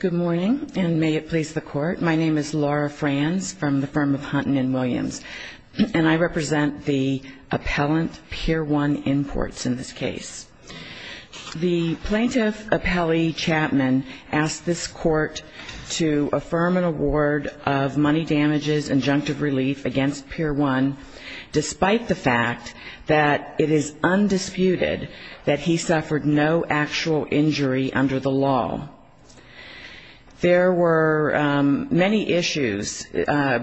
Good morning, and may it please the Court. My name is Laura Franz from the firm of Hunton & Williams, and I represent the appellant Pier 1 Imports in this case. The plaintiff, Appellee Chapman, asked this Court to affirm an award of money damages injunctive relief against Pier 1, despite the fact that it is undisputed that he suffered no actual injury under the law. There were many issues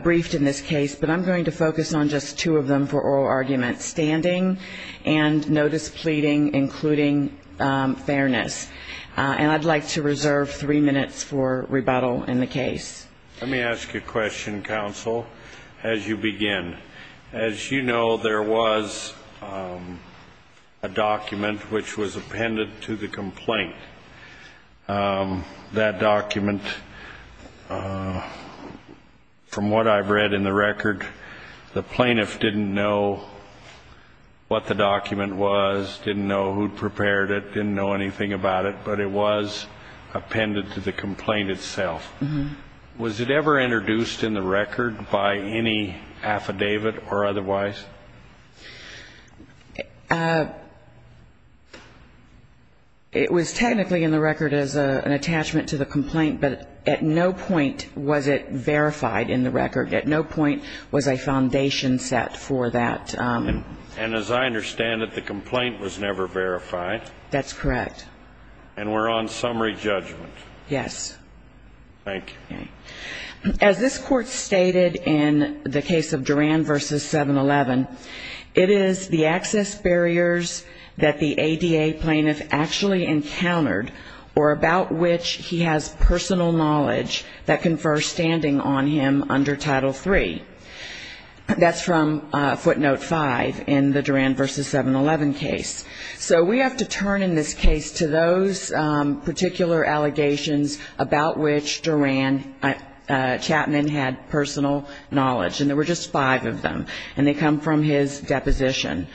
briefed in this case, but I'm going to focus on just two of them for oral argument, standing and no displeading, including fairness. And I'd like to reserve three minutes for rebuttal in the case. Let me ask you a question, Counsel, as you begin. As you know, there was a document which was appended to the complaint. That document, from what I've read in the record, the plaintiff didn't know what the document was, didn't know who'd prepared it, didn't know anything about it, but it was appended to the complaint itself. Was it ever introduced in the record by any affidavit or otherwise? It was technically in the record as an attachment to the complaint, but at no point was it verified in the record. At no point was a foundation set for that. And as I understand it, the complaint was never verified. That's correct. And we're on summary judgment. Yes. Thank you. Okay. As this Court stated in the case of Duran v. 7-11, it is the access barriers that the ADA plaintiff actually encountered or about which he has personal knowledge that confer standing on him under Title III. That's from footnote 5 in the Duran v. 7-11 case. So we have to turn in this case to those particular allegations about which Duran Chapman had personal knowledge, and there were just five of them, and they come from his deposition.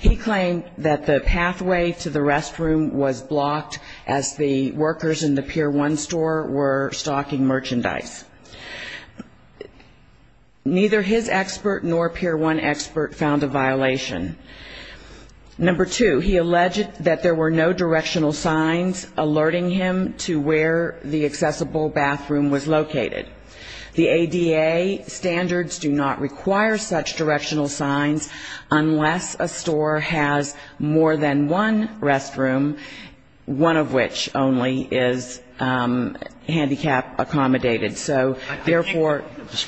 He claimed that the pathway to the restroom was blocked as the workers in the Pier 1 store were stocking merchandise. Neither his expert nor Pier 1 expert found a violation. Number two, he alleged that there were no directional signs alerting him to where the accessible bathroom was located. The ADA standards do not require such directional signs unless a store has more than one restroom, one of which only is handicap accommodated. So therefore yes.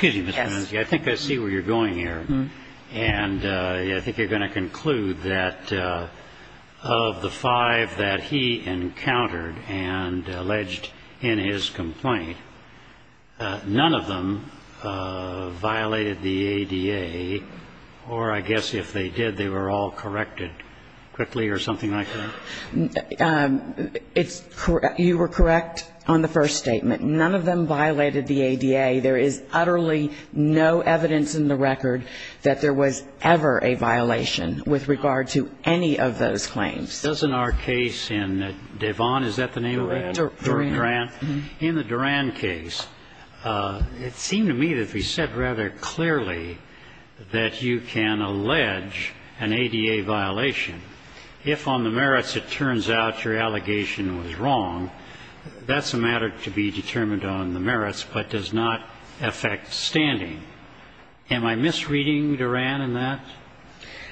I think I see where you're going here, and I think you're going to conclude that of the five that he encountered and alleged in his complaint, none of them violated the ADA, or I guess if they did, they were all corrected quickly or something like that? You were correct on the first statement. None of them violated the ADA. There is utterly no evidence in the record that there was ever a violation with regard to any of those claims. Doesn't our case in Devon, is that the name of it? Durand. Durand. In the Durand case, it seemed to me that he said rather clearly that you can allege an ADA violation if on the merits it turns out your standing. Am I misreading Durand in that?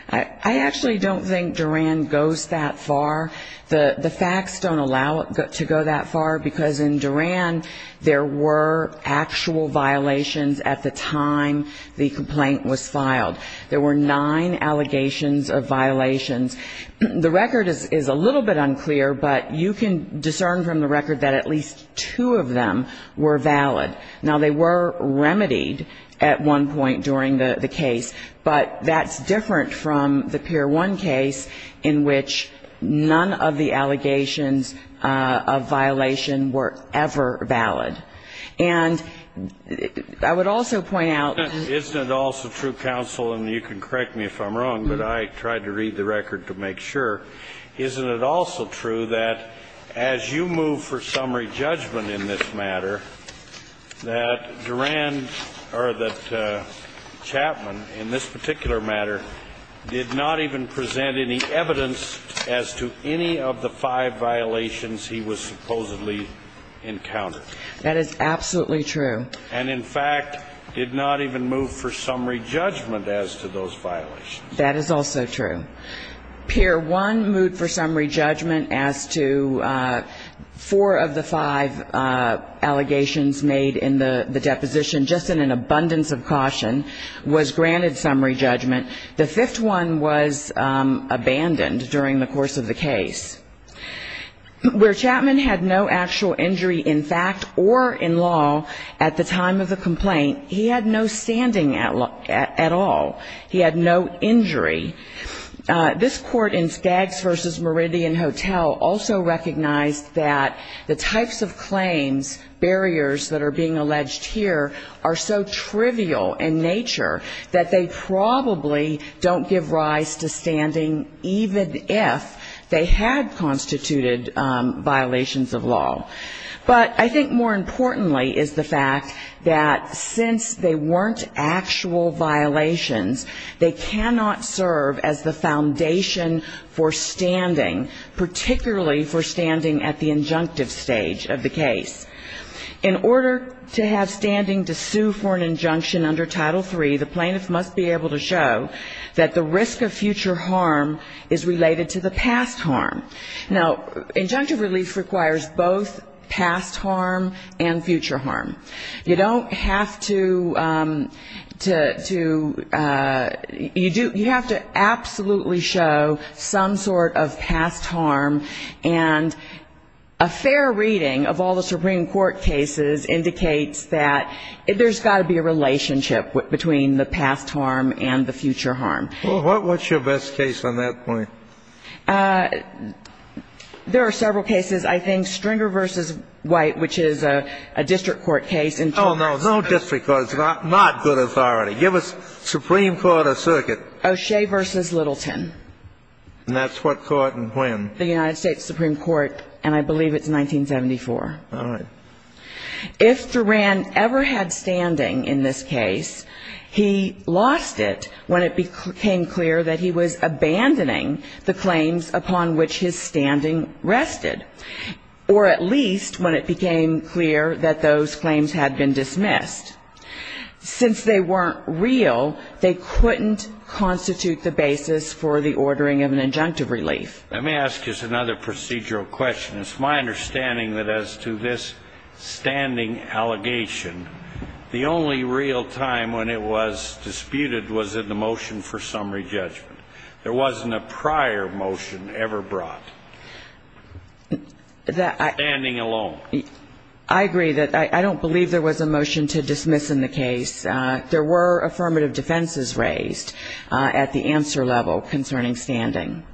I actually don't think Durand goes that far. The facts don't allow it to go that far, because in Durand there were actual violations at the time the complaint was filed. There were nine allegations of violations. The record is a little bit unclear, but you can discern from the record that at least two of them were valid. Now, they were remedied at one point during the case, but that's different from the Pier 1 case in which none of the allegations of violation were ever valid. And I would also point out that you can correct me if I'm wrong, but I tried to read the record to make sure. Isn't it also true that as you move for summary judgment in this matter, that Durand, or that Chapman in this particular matter, did not even present any evidence as to any of the five violations he was supposedly encountered? That is absolutely true. And, in fact, did not even move for summary judgment as to those violations? That is also true. Pier 1 moved for summary judgment as to four of the five allegations made in the deposition, just in an abundance of caution, was granted summary judgment. The fifth one was abandoned during the course of the case. Where Chapman had no actual injury in fact or in law at the time of the complaint, he had no standing at all. He had no injury. This court in Skaggs v. Meridian Hotel also recognized that the types of claims, barriers that are being alleged here, are so trivial in nature that they probably don't give rise to standing even if they had constituted violations of law. But I think more importantly is the fact that since they weren't actual violations, they cannot serve as the foundation for standing, particularly for standing at the injunctive stage of the case. In order to have standing to sue for an injunction under Title III, the plaintiff must be able to show that the risk of future harm is related to the past harm. Now, injunctive relief requires both past harm and future harm. You don't have to do you have to absolutely show some sort of past harm. And a fair reading of all the Supreme Court cases indicates that there's got to be a relationship between the past harm and the future harm. Well, what's your best case on that point? There are several cases. I think Stringer v. White, which is a district court case in terms of the ---- Oh, no, no district court. It's not good authority. Give us Supreme Court or circuit. O'Shea v. Littleton. And that's what court and when? The United States Supreme Court, and I believe it's 1974. All right. If Duran ever had standing in this case, he lost it when it became clear that he was abandoning the claims upon which his standing rested, or at least when it became clear that those claims had been dismissed. Since they weren't real, they couldn't constitute the basis for the ordering of an injunctive relief. Let me ask you another procedural question. It's my understanding that as to this standing allegation, the only real time when it was disputed was in the motion for summary judgment. There wasn't a prior motion ever brought. Standing alone. I agree. I don't believe there was a motion to dismiss in the case. There were affirmative defenses raised at the answer level concerning standing.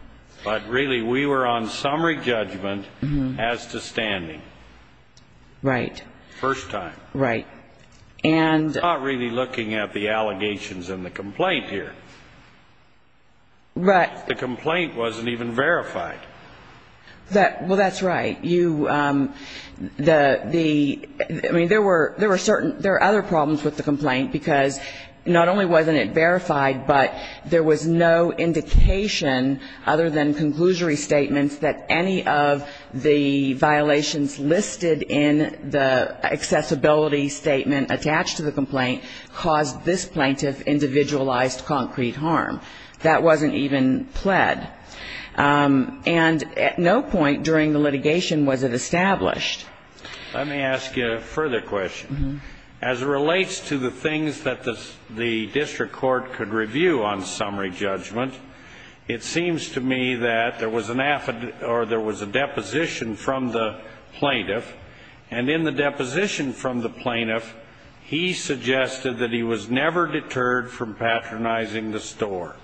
But really, we were on summary judgment as to standing. Right. First time. Right. And. We're not really looking at the allegations in the complaint here. Right. The complaint wasn't even verified. Well, that's right. I mean, there were certain other problems with the complaint, because not only wasn't it verified, but there was no indication other than conclusory statements that any of the violations listed in the accessibility statement attached to the complaint caused this plaintiff individualized concrete harm. That wasn't even pled. And at no point during the litigation was it established. Let me ask you a further question. As it relates to the things that the district court could review on summary judgment, it seems to me that there was an affidavit or there was a deposition from the plaintiff. And in the deposition from the plaintiff, he suggested that he was never deterred from patronizing the store.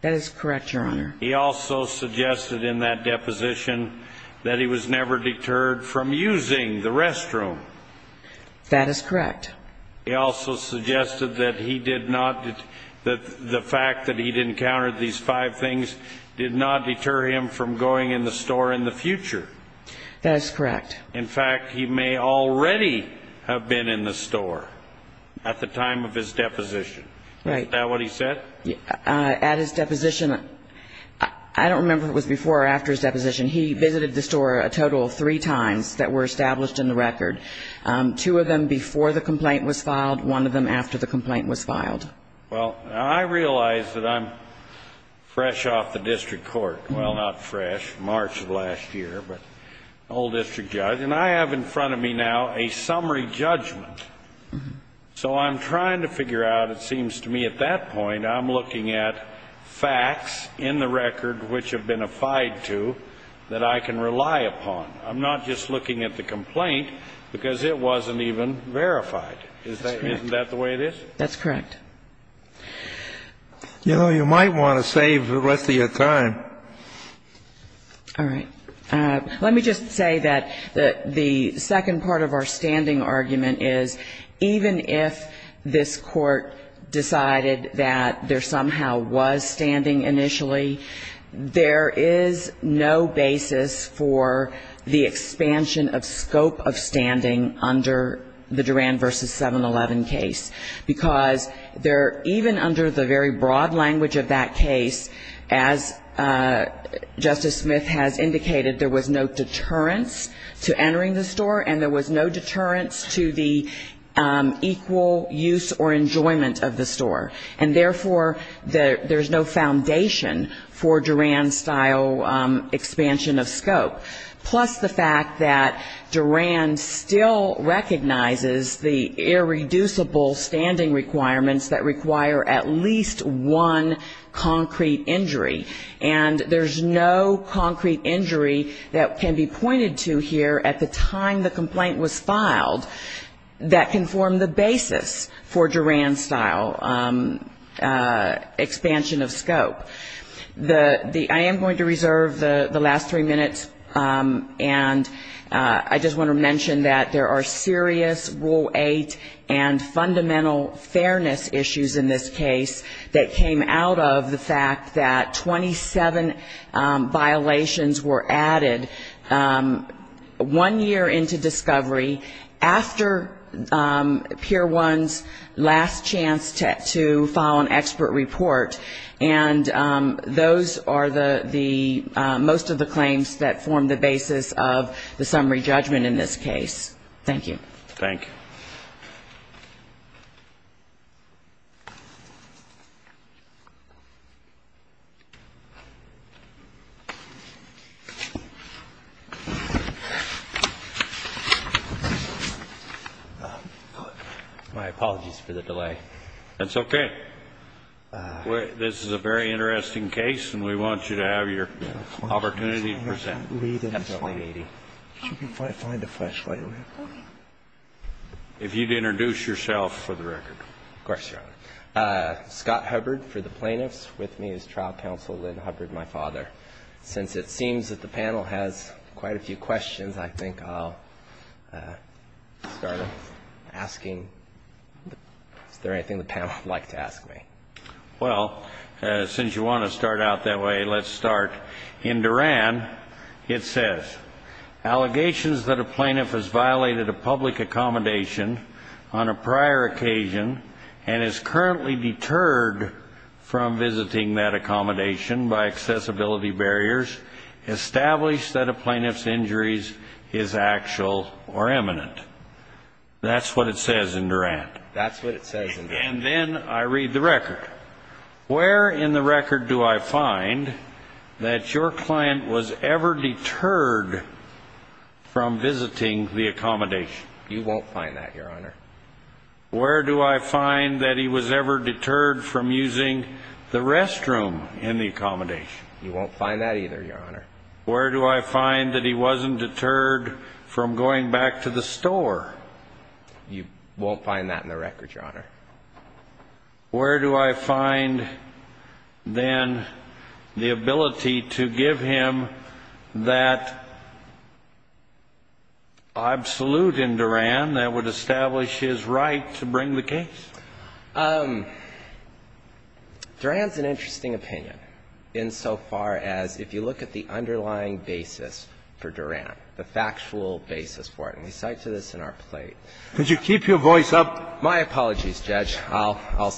That is correct, Your Honor. He also suggested in that deposition that he was never deterred from using the restroom. That is correct. He also suggested that he did not, that the fact that he'd encountered these five things did not deter him from going in the store in the future. That is correct. In fact, he may already have been in the store at the time of his deposition. Right. Is that what he said? At his deposition, I don't remember if it was before or after his deposition. He visited the store a total of three times that were established in the record, two of them before the complaint was filed, one of them after the complaint was filed. Well, I realize that I'm fresh off the district court. Well, not fresh. March of last year, but old district judge. And I have in front of me now a summary judgment. So I'm trying to figure out, it seems to me at that point, I'm looking at facts in the record which have been affid to that I can rely upon. I'm not just looking at the complaint because it wasn't even verified. Isn't that the way it is? That's correct. You know, you might want to save the rest of your time. All right. Let me just say that the second part of our standing argument is, even if this court decided that there somehow was standing initially, there is no basis for the expansion of scope of standing under the Duran v. 7-11 case. Because even under the very broad language of that case, as Justice Smith has indicated, there was no deterrence to entering the store, and there was no deterrence to the equal use or enjoyment of the store. And, therefore, there's no foundation for Duran-style expansion of scope. Plus the fact that Duran still recognizes the irreducible standing requirements that require at least one concrete injury. And there's no concrete injury that can be pointed to here at the time the complaint was filed that can form the basis for Duran-style expansion of scope. I am going to reserve the last three minutes, and I just want to mention that there are serious Rule 8 and fundamental fairness issues in this case that came out of the fact that 27 violations were added one year into discovery, after Pier 1's last chance to file an expert report. And those are the most of the claims that form the basis of the summary judgment in this case. Thank you. Thank you. My apologies for the delay. That's okay. This is a very interesting case, and we want you to have your opportunity to present. Absolutely needy. If you could find a flashlight. If you'd introduce yourself for the record. Of course, Your Honor. Scott Hubbard for the plaintiffs. With me is trial counsel Lynn Hubbard, my father. Since it seems that the panel has quite a few questions, I think I'll start asking, is there anything the panel would like to ask me? Well, since you want to start out that way, let's start. In Duran, it says, allegations that a plaintiff has violated a public accommodation on a prior occasion and is currently deterred from visiting that accommodation by accessibility barriers, establish that a plaintiff's injuries is actual or imminent. That's what it says in Duran. That's what it says in Duran. And then I read the record. Where in the record do I find that your client was ever deterred from visiting the accommodation? You won't find that, Your Honor. Where do I find that he was ever deterred from using the restroom in the accommodation? You won't find that either, Your Honor. Where do I find that he wasn't deterred from going back to the store? You won't find that in the record, Your Honor. Where do I find then the ability to give him that absolute in Duran that would establish his right to bring the case? Duran's an interesting opinion insofar as if you look at the underlying basis for Duran, the factual basis for it, and we cite to this in our plate. Could you keep your voice up? My apologies, Judge. I'll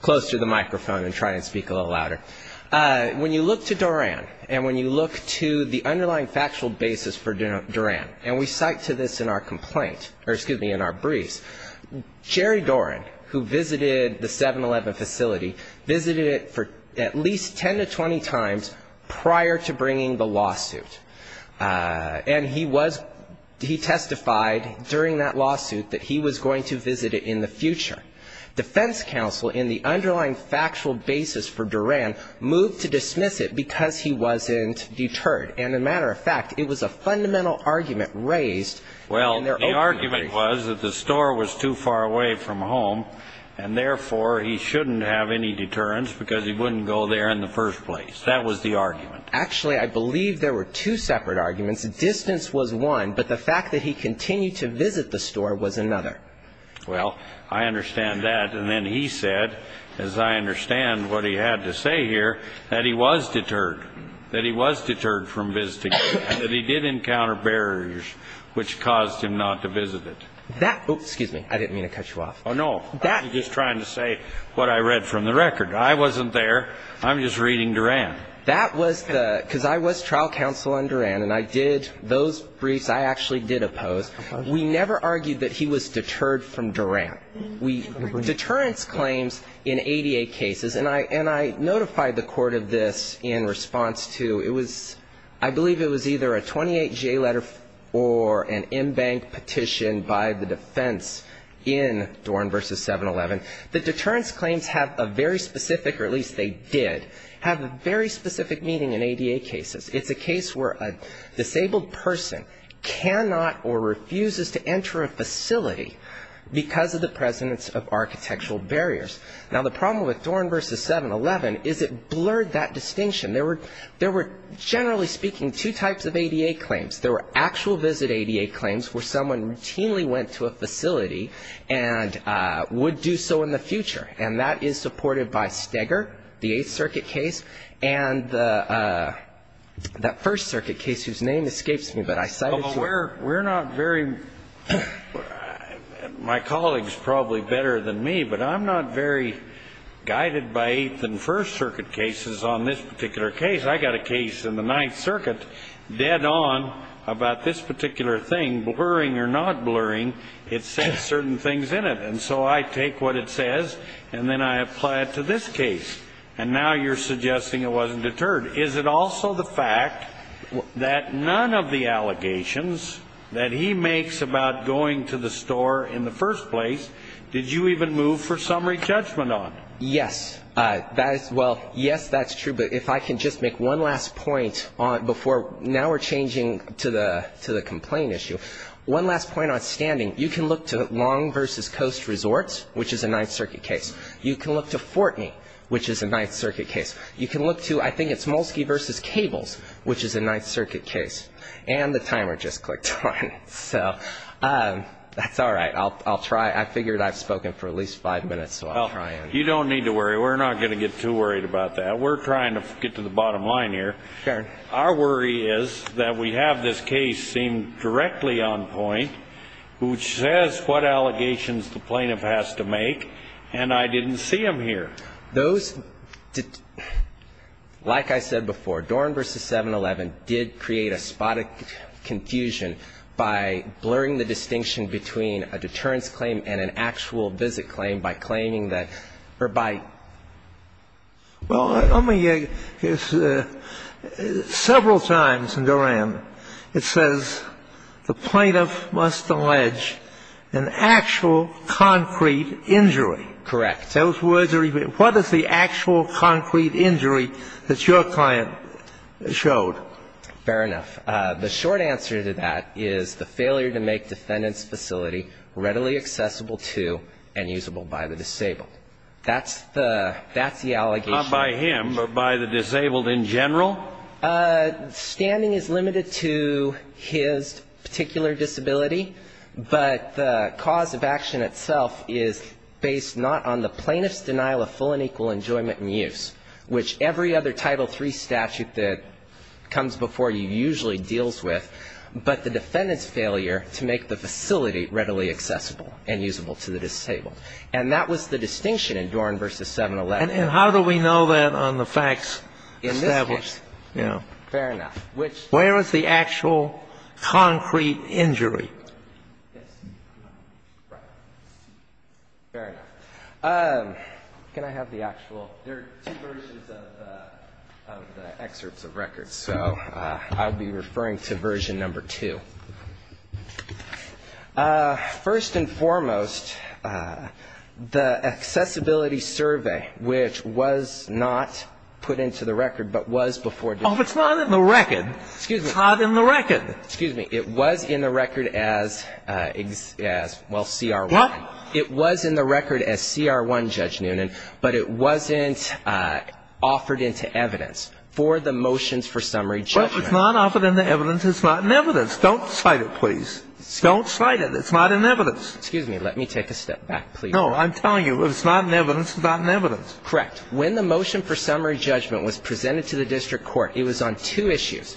close to the microphone and try and speak a little louder. When you look to Duran and when you look to the underlying factual basis for Duran, and we cite to this in our briefs, Jerry Doran, who visited the 7-Eleven facility, visited it at least 10 to 20 times prior to bringing the lawsuit. And he testified during that lawsuit that he was going to visit it in the future. Defense counsel in the underlying factual basis for Duran moved to dismiss it because he wasn't deterred. And, as a matter of fact, it was a fundamental argument raised. Well, the argument was that the store was too far away from home, and therefore he shouldn't have any deterrence because he wouldn't go there in the first place. That was the argument. Actually, I believe there were two separate arguments. Distance was one, but the fact that he continued to visit the store was another. Well, I understand that. And then he said, as I understand what he had to say here, that he was deterred, that he was deterred from visiting it, and that he did encounter barriers which caused him not to visit it. That ---- Oh, excuse me. I didn't mean to cut you off. Oh, no. I was just trying to say what I read from the record. I wasn't there. I'm just reading Duran. That was the ---- because I was trial counsel on Duran, and I did ---- those briefs I actually did oppose. We never argued that he was deterred from Duran. Deterrence claims in ADA cases, and I notified the court of this in response to ---- it was ---- I believe it was either a 28-J letter or an in-bank petition by the defense in Duran v. 7-11. The deterrence claims have a very specific, or at least they did, have a very specific meaning in ADA cases. It's a case where a disabled person cannot or refuses to enter a facility because of the presence of architectural barriers. Now, the problem with Duran v. 7-11 is it blurred that distinction. There were, generally speaking, two types of ADA claims. There were actual visit ADA claims where someone routinely went to a facility and would do so in the future, and that is supported by Steger, the Eighth Circuit case, and the First Circuit case, whose name escapes me, but I cited you. We're not very ---- my colleague's probably better than me, but I'm not very guided by Eighth and First Circuit cases on this particular case. I got a case in the Ninth Circuit dead on about this particular thing, blurring or not blurring. It says certain things in it. And so I take what it says and then I apply it to this case, and now you're suggesting it wasn't deterred. Is it also the fact that none of the allegations that he makes about going to the store in the first place did you even move for summary judgment on? Yes. That is ---- well, yes, that's true, but if I can just make one last point before ---- now we're changing to the complaint issue. One last point on standing. You can look to Long v. Coast Resorts, which is a Ninth Circuit case. You can look to Fortney, which is a Ninth Circuit case. You can look to ---- I think it's Molsky v. Cables, which is a Ninth Circuit case. And the timer just clicked on, so that's all right. I'll try ---- I figured I've spoken for at least five minutes, so I'll try and ---- Well, you don't need to worry. We're not going to get too worried about that. We're trying to get to the bottom line here. Sure. Our worry is that we have this case seemed directly on point, which says what allegations the plaintiff has to make, and I didn't see them here. Those ---- like I said before, Dorn v. 711 did create a spot of confusion by blurring the distinction between a deterrence claim and an actual visit claim by claiming that ---- or by ---- Well, let me ---- several times in Duran, it says the plaintiff must allege an actual concrete injury. Correct. Those words are even ---- what is the actual concrete injury that your client showed? Fair enough. The short answer to that is the failure to make defendant's facility readily accessible to and usable by the disabled. That's the allegation. Not by him, but by the disabled in general? Standing is limited to his particular disability, but the cause of action itself is based not on the plaintiff's denial of full and equal enjoyment and use, which every other Title III statute that comes before you usually deals with, but the defendant's failure to make the facility readily accessible and usable to the disabled. And that was the distinction in Dorn v. 711. And how do we know that on the facts established? In this case. Yeah. Fair enough. Where is the actual concrete injury? Right. Fair enough. Can I have the actual ---- there are two versions of the excerpts of records, so I'll be referring to version number 2. First and foremost, the accessibility survey, which was not put into the record, but was before ---- Oh, if it's not in the record, it's not in the record. Excuse me. It was in the record as, well, CR1. What? It was in the record as CR1, Judge Noonan, but it wasn't offered into evidence for the motions for summary judgment. Well, it's not offered into evidence. It's not in evidence. Don't cite it, please. Don't cite it. It's not in evidence. Excuse me. Let me take a step back, please. No. I'm telling you, it's not in evidence. It's not in evidence. Correct. When the motion for summary judgment was presented to the district court, it was on two issues,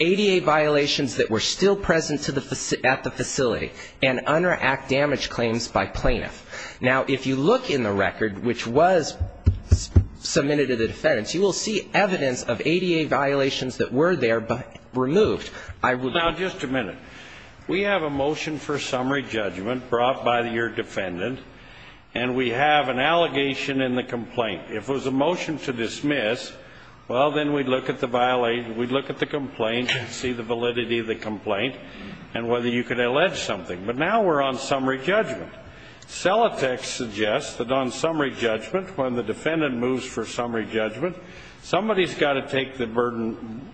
ADA violations that were still present at the facility and under act damage claims by plaintiff. Now, if you look in the record, which was submitted to the defendants, you will see evidence of ADA violations that were there, but removed. I would ---- Now, just a minute. We have a motion for summary judgment brought by your defendant, and we have an allegation in the complaint. If it was a motion to dismiss, well, then we'd look at the violation. We'd look at the complaint and see the validity of the complaint and whether you could allege something. But now we're on summary judgment. Celotex suggests that on summary judgment, when the defendant moves for summary judgment, somebody's got to take the burden,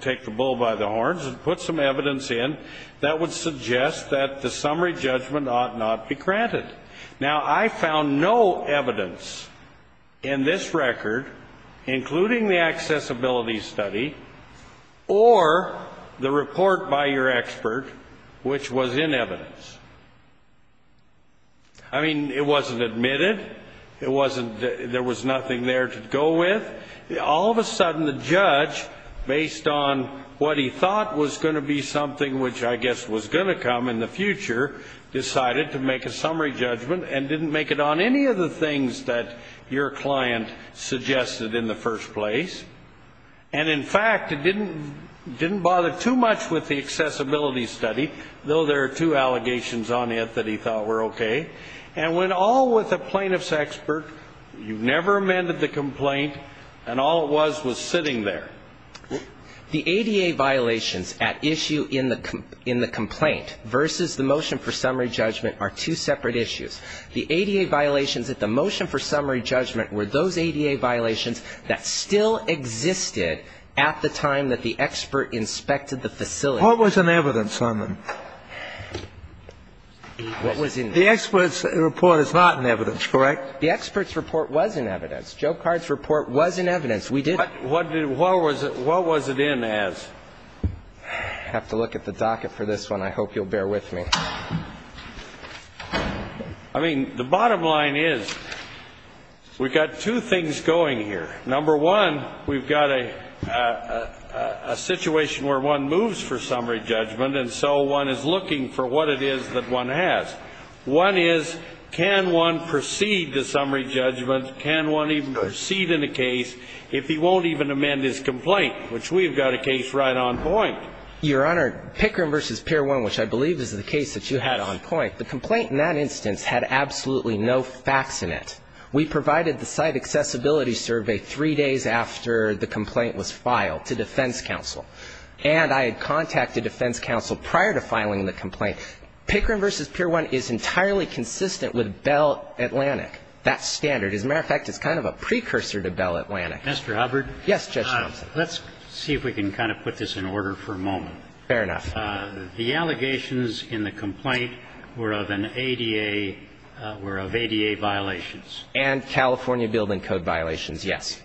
take the bull by the horns and put some evidence in that would suggest that the summary judgment ought not be granted. Now, I found no evidence in this record, including the accessibility study or the report by your expert, which was in evidence. I mean, it wasn't admitted. There was nothing there to go with. All of a sudden, the judge, based on what he thought was going to be something which I guess was going to come in the future, decided to make a summary judgment and didn't make it on any of the things that your client suggested in the first place. And, in fact, it didn't bother too much with the accessibility study, though there are two allegations on it that he thought were okay, and went all with the plaintiff's expert. You never amended the complaint, and all it was was sitting there. The ADA violations at issue in the complaint versus the motion for summary judgment are two separate issues. The ADA violations at the motion for summary judgment were those ADA violations that still existed at the time that the expert inspected the facility. What was in evidence on them? What was in evidence? The expert's report is not in evidence, correct? The expert's report was in evidence. Joe Card's report was in evidence. What was it in as? I have to look at the docket for this one. I hope you'll bear with me. I mean, the bottom line is we've got two things going here. Number one, we've got a situation where one moves for summary judgment, and so one is looking for what it is that one has. One is can one proceed to summary judgment, can one even proceed in a case if he won't even amend his complaint, which we've got a case right on point. Your Honor, Pickering v. Pier 1, which I believe is the case that you had on point, the complaint in that instance had absolutely no facts in it. We provided the site accessibility survey three days after the complaint was filed to defense counsel. And I had contacted defense counsel prior to filing the complaint. Pickering v. Pier 1 is entirely consistent with Bell Atlantic. That's standard. As a matter of fact, it's kind of a precursor to Bell Atlantic. Mr. Hubbard? Yes, Judge Gelsen. Let's see if we can kind of put this in order for a moment. Fair enough. The allegations in the complaint were of an ADA, were of ADA violations. And California Building Code violations, yes.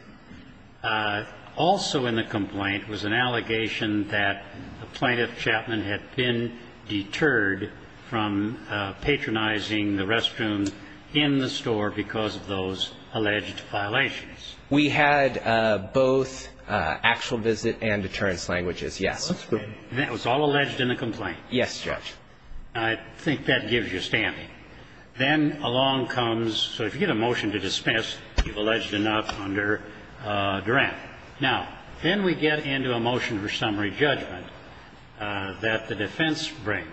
Also in the complaint was an allegation that the plaintiff, Chapman, had been deterred from patronizing the restroom in the store because of those alleged violations. We had both actual visit and deterrence languages, yes. That's correct. And that was all alleged in the complaint? Yes, Judge. I think that gives you standing. Then along comes, so if you get a motion to dismiss, you've alleged enough under Durant. Now, then we get into a motion for summary judgment that the defense brings.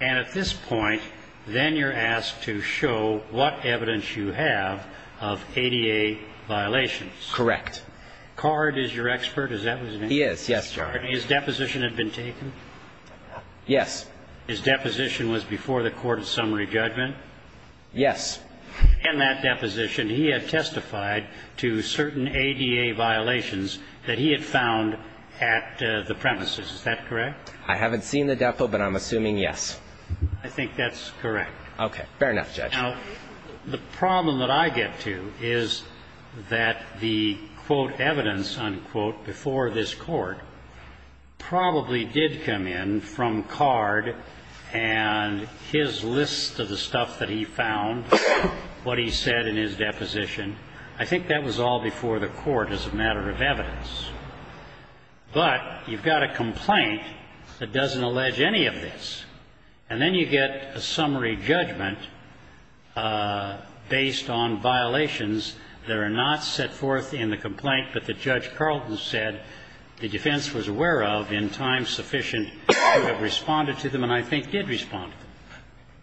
And at this point, then you're asked to show what evidence you have of ADA violations. Correct. Card is your expert, is that what his name is? He is, yes, Judge. His deposition had been taken? Yes. His deposition was before the court of summary judgment? Yes. In that deposition, he had testified to certain ADA violations that he had found at the premises. Is that correct? I haven't seen the depo, but I'm assuming yes. I think that's correct. Okay. Fair enough, Judge. Now, the problem that I get to is that the, quote, evidence, unquote, before this court, probably did come in from Card and his list of the stuff that he found, what he said in his deposition. I think that was all before the court as a matter of evidence. But you've got a complaint that doesn't allege any of this. And then you get a summary judgment based on violations that are not set forth in the complaint, but that Judge Carlton said the defense was aware of in time sufficient to have responded to them and I think did respond to them.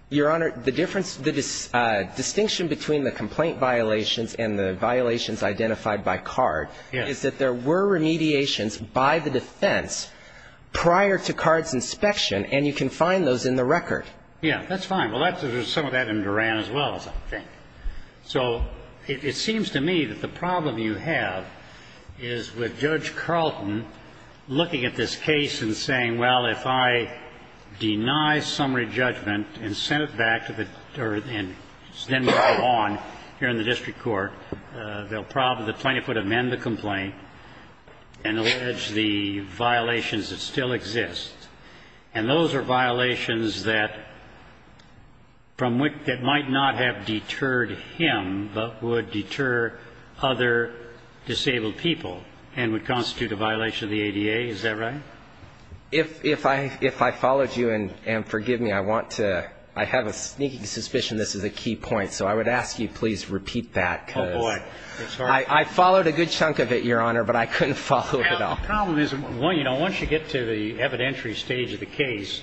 Your Honor, the difference, the distinction between the complaint violations and the violations identified by Card is that there were remediations by the defense prior to Card's inspection, and you can find those in the record. Yeah, that's fine. Well, there's some of that in Duran as well, I think. So it seems to me that the problem you have is with Judge Carlton looking at this case and saying, well, if I deny summary judgment and send it back to the, or then move it on here in the district court, the plaintiff would amend the complaint and allege the violations that still exist. And those are violations that might not have deterred him, but would deter other disabled people and would constitute a violation of the ADA. Is that right? If I followed you, and forgive me, I want to, I have a sneaking suspicion this is a key point. So I would ask you, please, repeat that. Oh, boy. I followed a good chunk of it, Your Honor, but I couldn't follow it all. Well, the problem is, once you get to the evidentiary stage of the case,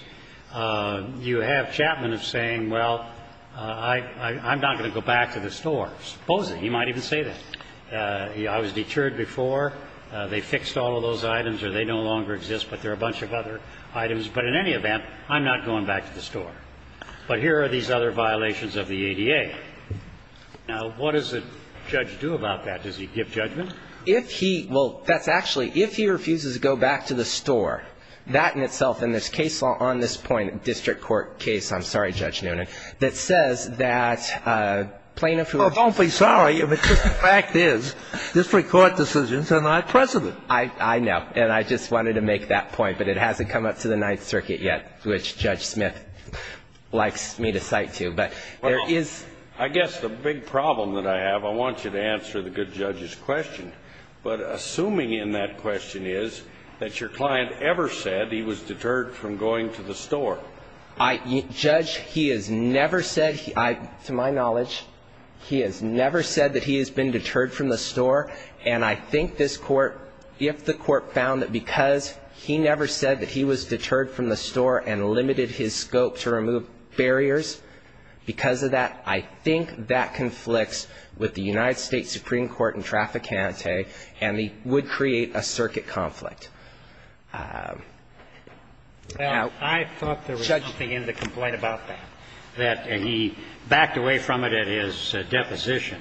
you have Chapman saying, well, I'm not going to go back to the store, supposedly. He might even say that. I was deterred before. They fixed all of those items or they no longer exist, but there are a bunch of other items. But in any event, I'm not going back to the store. But here are these other violations of the ADA. Now, what does the judge do about that? Does he give judgment? If he, well, that's actually, if he refuses to go back to the store, that in itself and there's case law on this point, district court case, I'm sorry, Judge Noonan, that says that plaintiffs who are going to be sorry if the fact is district court decisions are not precedent. I know. And I just wanted to make that point, but it hasn't come up to the Ninth Circuit yet, which Judge Smith likes me to cite to. But there is. Well, I guess the big problem that I have, I want you to answer the good judge's question. But assuming in that question is that your client ever said he was deterred from going to the store. Judge, he has never said, to my knowledge, he has never said that he has been deterred from the store. And I think this Court, if the Court found that because he never said that he was deterred from going to the store and limited his scope to remove barriers, because of that, I think that conflicts with the United States Supreme Court and traffic ante and would create a circuit conflict. I thought there was something in the complaint about that, that he backed away from it at his deposition,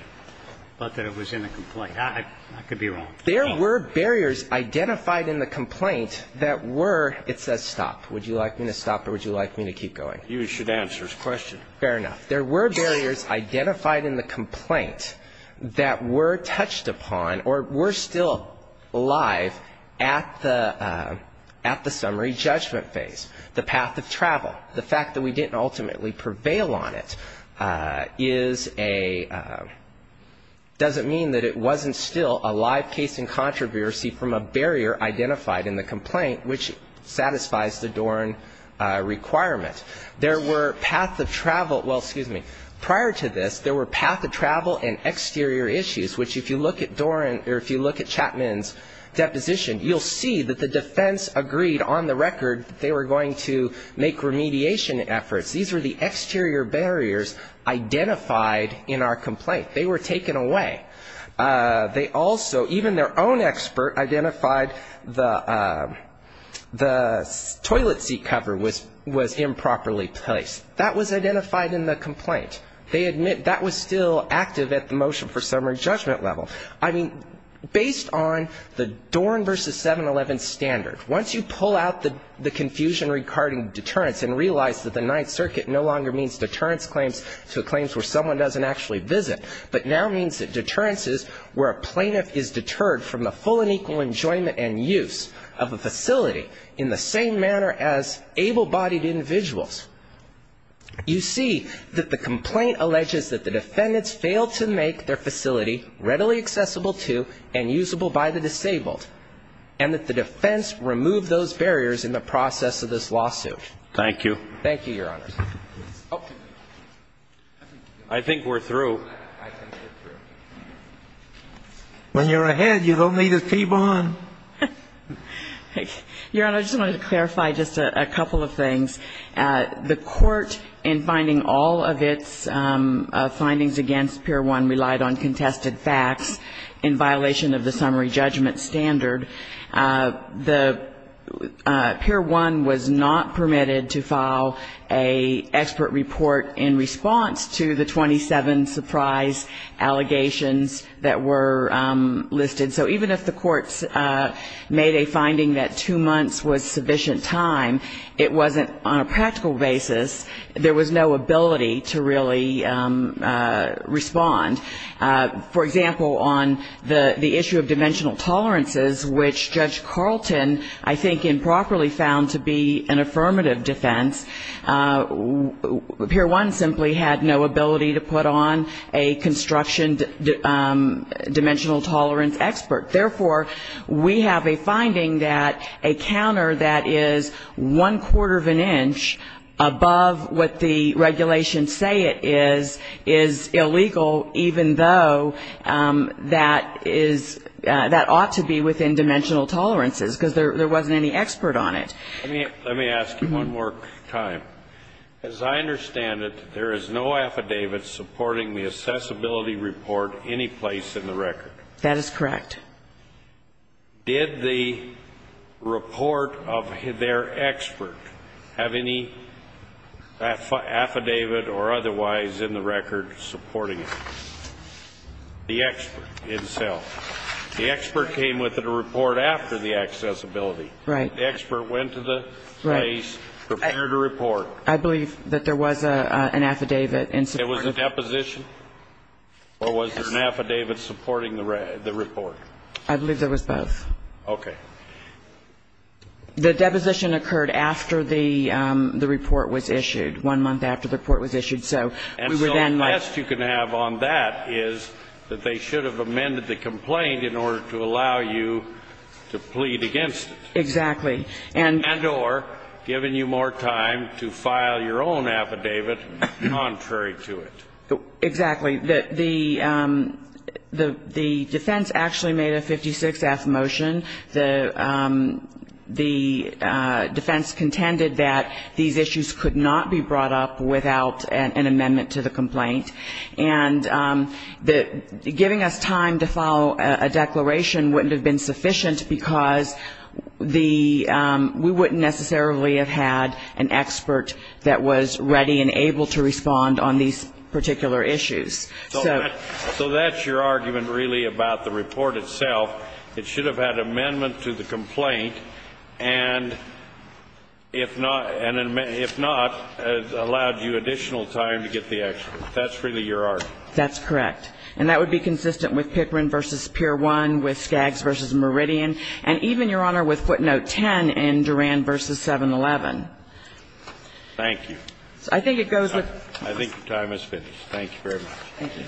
but that it was in the complaint. I could be wrong. There were barriers identified in the complaint that were, it says stop. Would you like me to stop or would you like me to keep going? You should answer his question. Fair enough. There were barriers identified in the complaint that were touched upon or were still alive at the summary judgment phase. The path of travel. The fact that we didn't ultimately prevail on it is a, doesn't mean that it wasn't still a live case in controversy from a barrier identified in the complaint which satisfies the Doran requirement. There were path of travel, well, excuse me, prior to this, there were path of travel and exterior issues, which if you look at Doran or if you look at Chapman's deposition, you'll see that the defense agreed on the record that they were going to make remediation efforts. These were the exterior barriers identified in our complaint. They were taken away. They also, even their own expert identified the toilet seat cover was improperly placed. That was identified in the complaint. They admit that was still active at the motion for summary judgment level. I mean, based on the Doran versus 711 standard, once you pull out the confusion regarding deterrence and realize that the Ninth Circuit no longer means deterrence claims to claims where someone doesn't actually visit, but now means that deterrence is where a plaintiff is deterred from the full and equal enjoyment and use of a facility in the same manner as able-bodied individuals, you see that the complaint alleges that the defendants failed to make their facility readily accessible to and usable by the disabled, and that the defense removed those barriers in the process of this lawsuit. Thank you. Thank you, Your Honor. I think we're through. When you're ahead, you don't need a keyboard. Your Honor, I just wanted to clarify just a couple of things. The Court, in finding all of its findings against Pier 1, relied on contested facts in violation of the summary judgment standard. The Pier 1 was not permitted to file an expert report in response to the 27 surprise allegations that were listed. So even if the courts made a finding that two months was sufficient time, it wasn't on a practical basis, there was no ability to really respond. For example, on the issue of dimensional tolerances, which Judge Carlton I think improperly found to be an affirmative defense, Pier 1 simply had no ability to put on a construction dimensional tolerance expert. Therefore, we have a finding that a counter that is one-quarter of an inch above what the regulations say it is, is illegal, even though that ought to be within dimensional tolerances, because there wasn't any expert on it. Let me ask you one more time. As I understand it, there is no affidavit supporting the accessibility report anyplace in the record. That is correct. Did the report of their expert have any affidavit or otherwise in the record supporting it? The expert himself. The expert came with a report after the accessibility. The expert went to the case, prepared a report. I believe that there was an affidavit in support. There was a deposition, or was there an affidavit supporting the report? I believe there was both. Okay. The deposition occurred after the report was issued, one month after the report was issued, so we were then like And so a test you can have on that is that they should have amended the complaint in order to allow you to plead against it. Exactly. And or given you more time to file your own affidavit contrary to it. Exactly. The defense actually made a 56-F motion. The defense contended that these issues could not be brought up without an amendment to the complaint. And giving us time to file a declaration wouldn't have been sufficient, because the we wouldn't necessarily have had an expert that was ready and able to respond on these particular issues. So that's your argument, really, about the report itself. It should have had amendment to the complaint, and if not, allowed you additional time to get the expert. That's really your argument. That's correct. And that would be consistent with Pickering v. Pier 1, with Skaggs v. Meridian, and even, Your Honor, with footnote 10 in Duran v. 711. Thank you. I think it goes with I think your time is finished. Thank you very much. Thank you.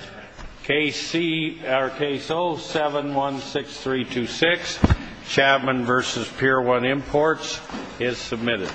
Case 0716326, Chapman v. Pier 1 Imports, is submitted.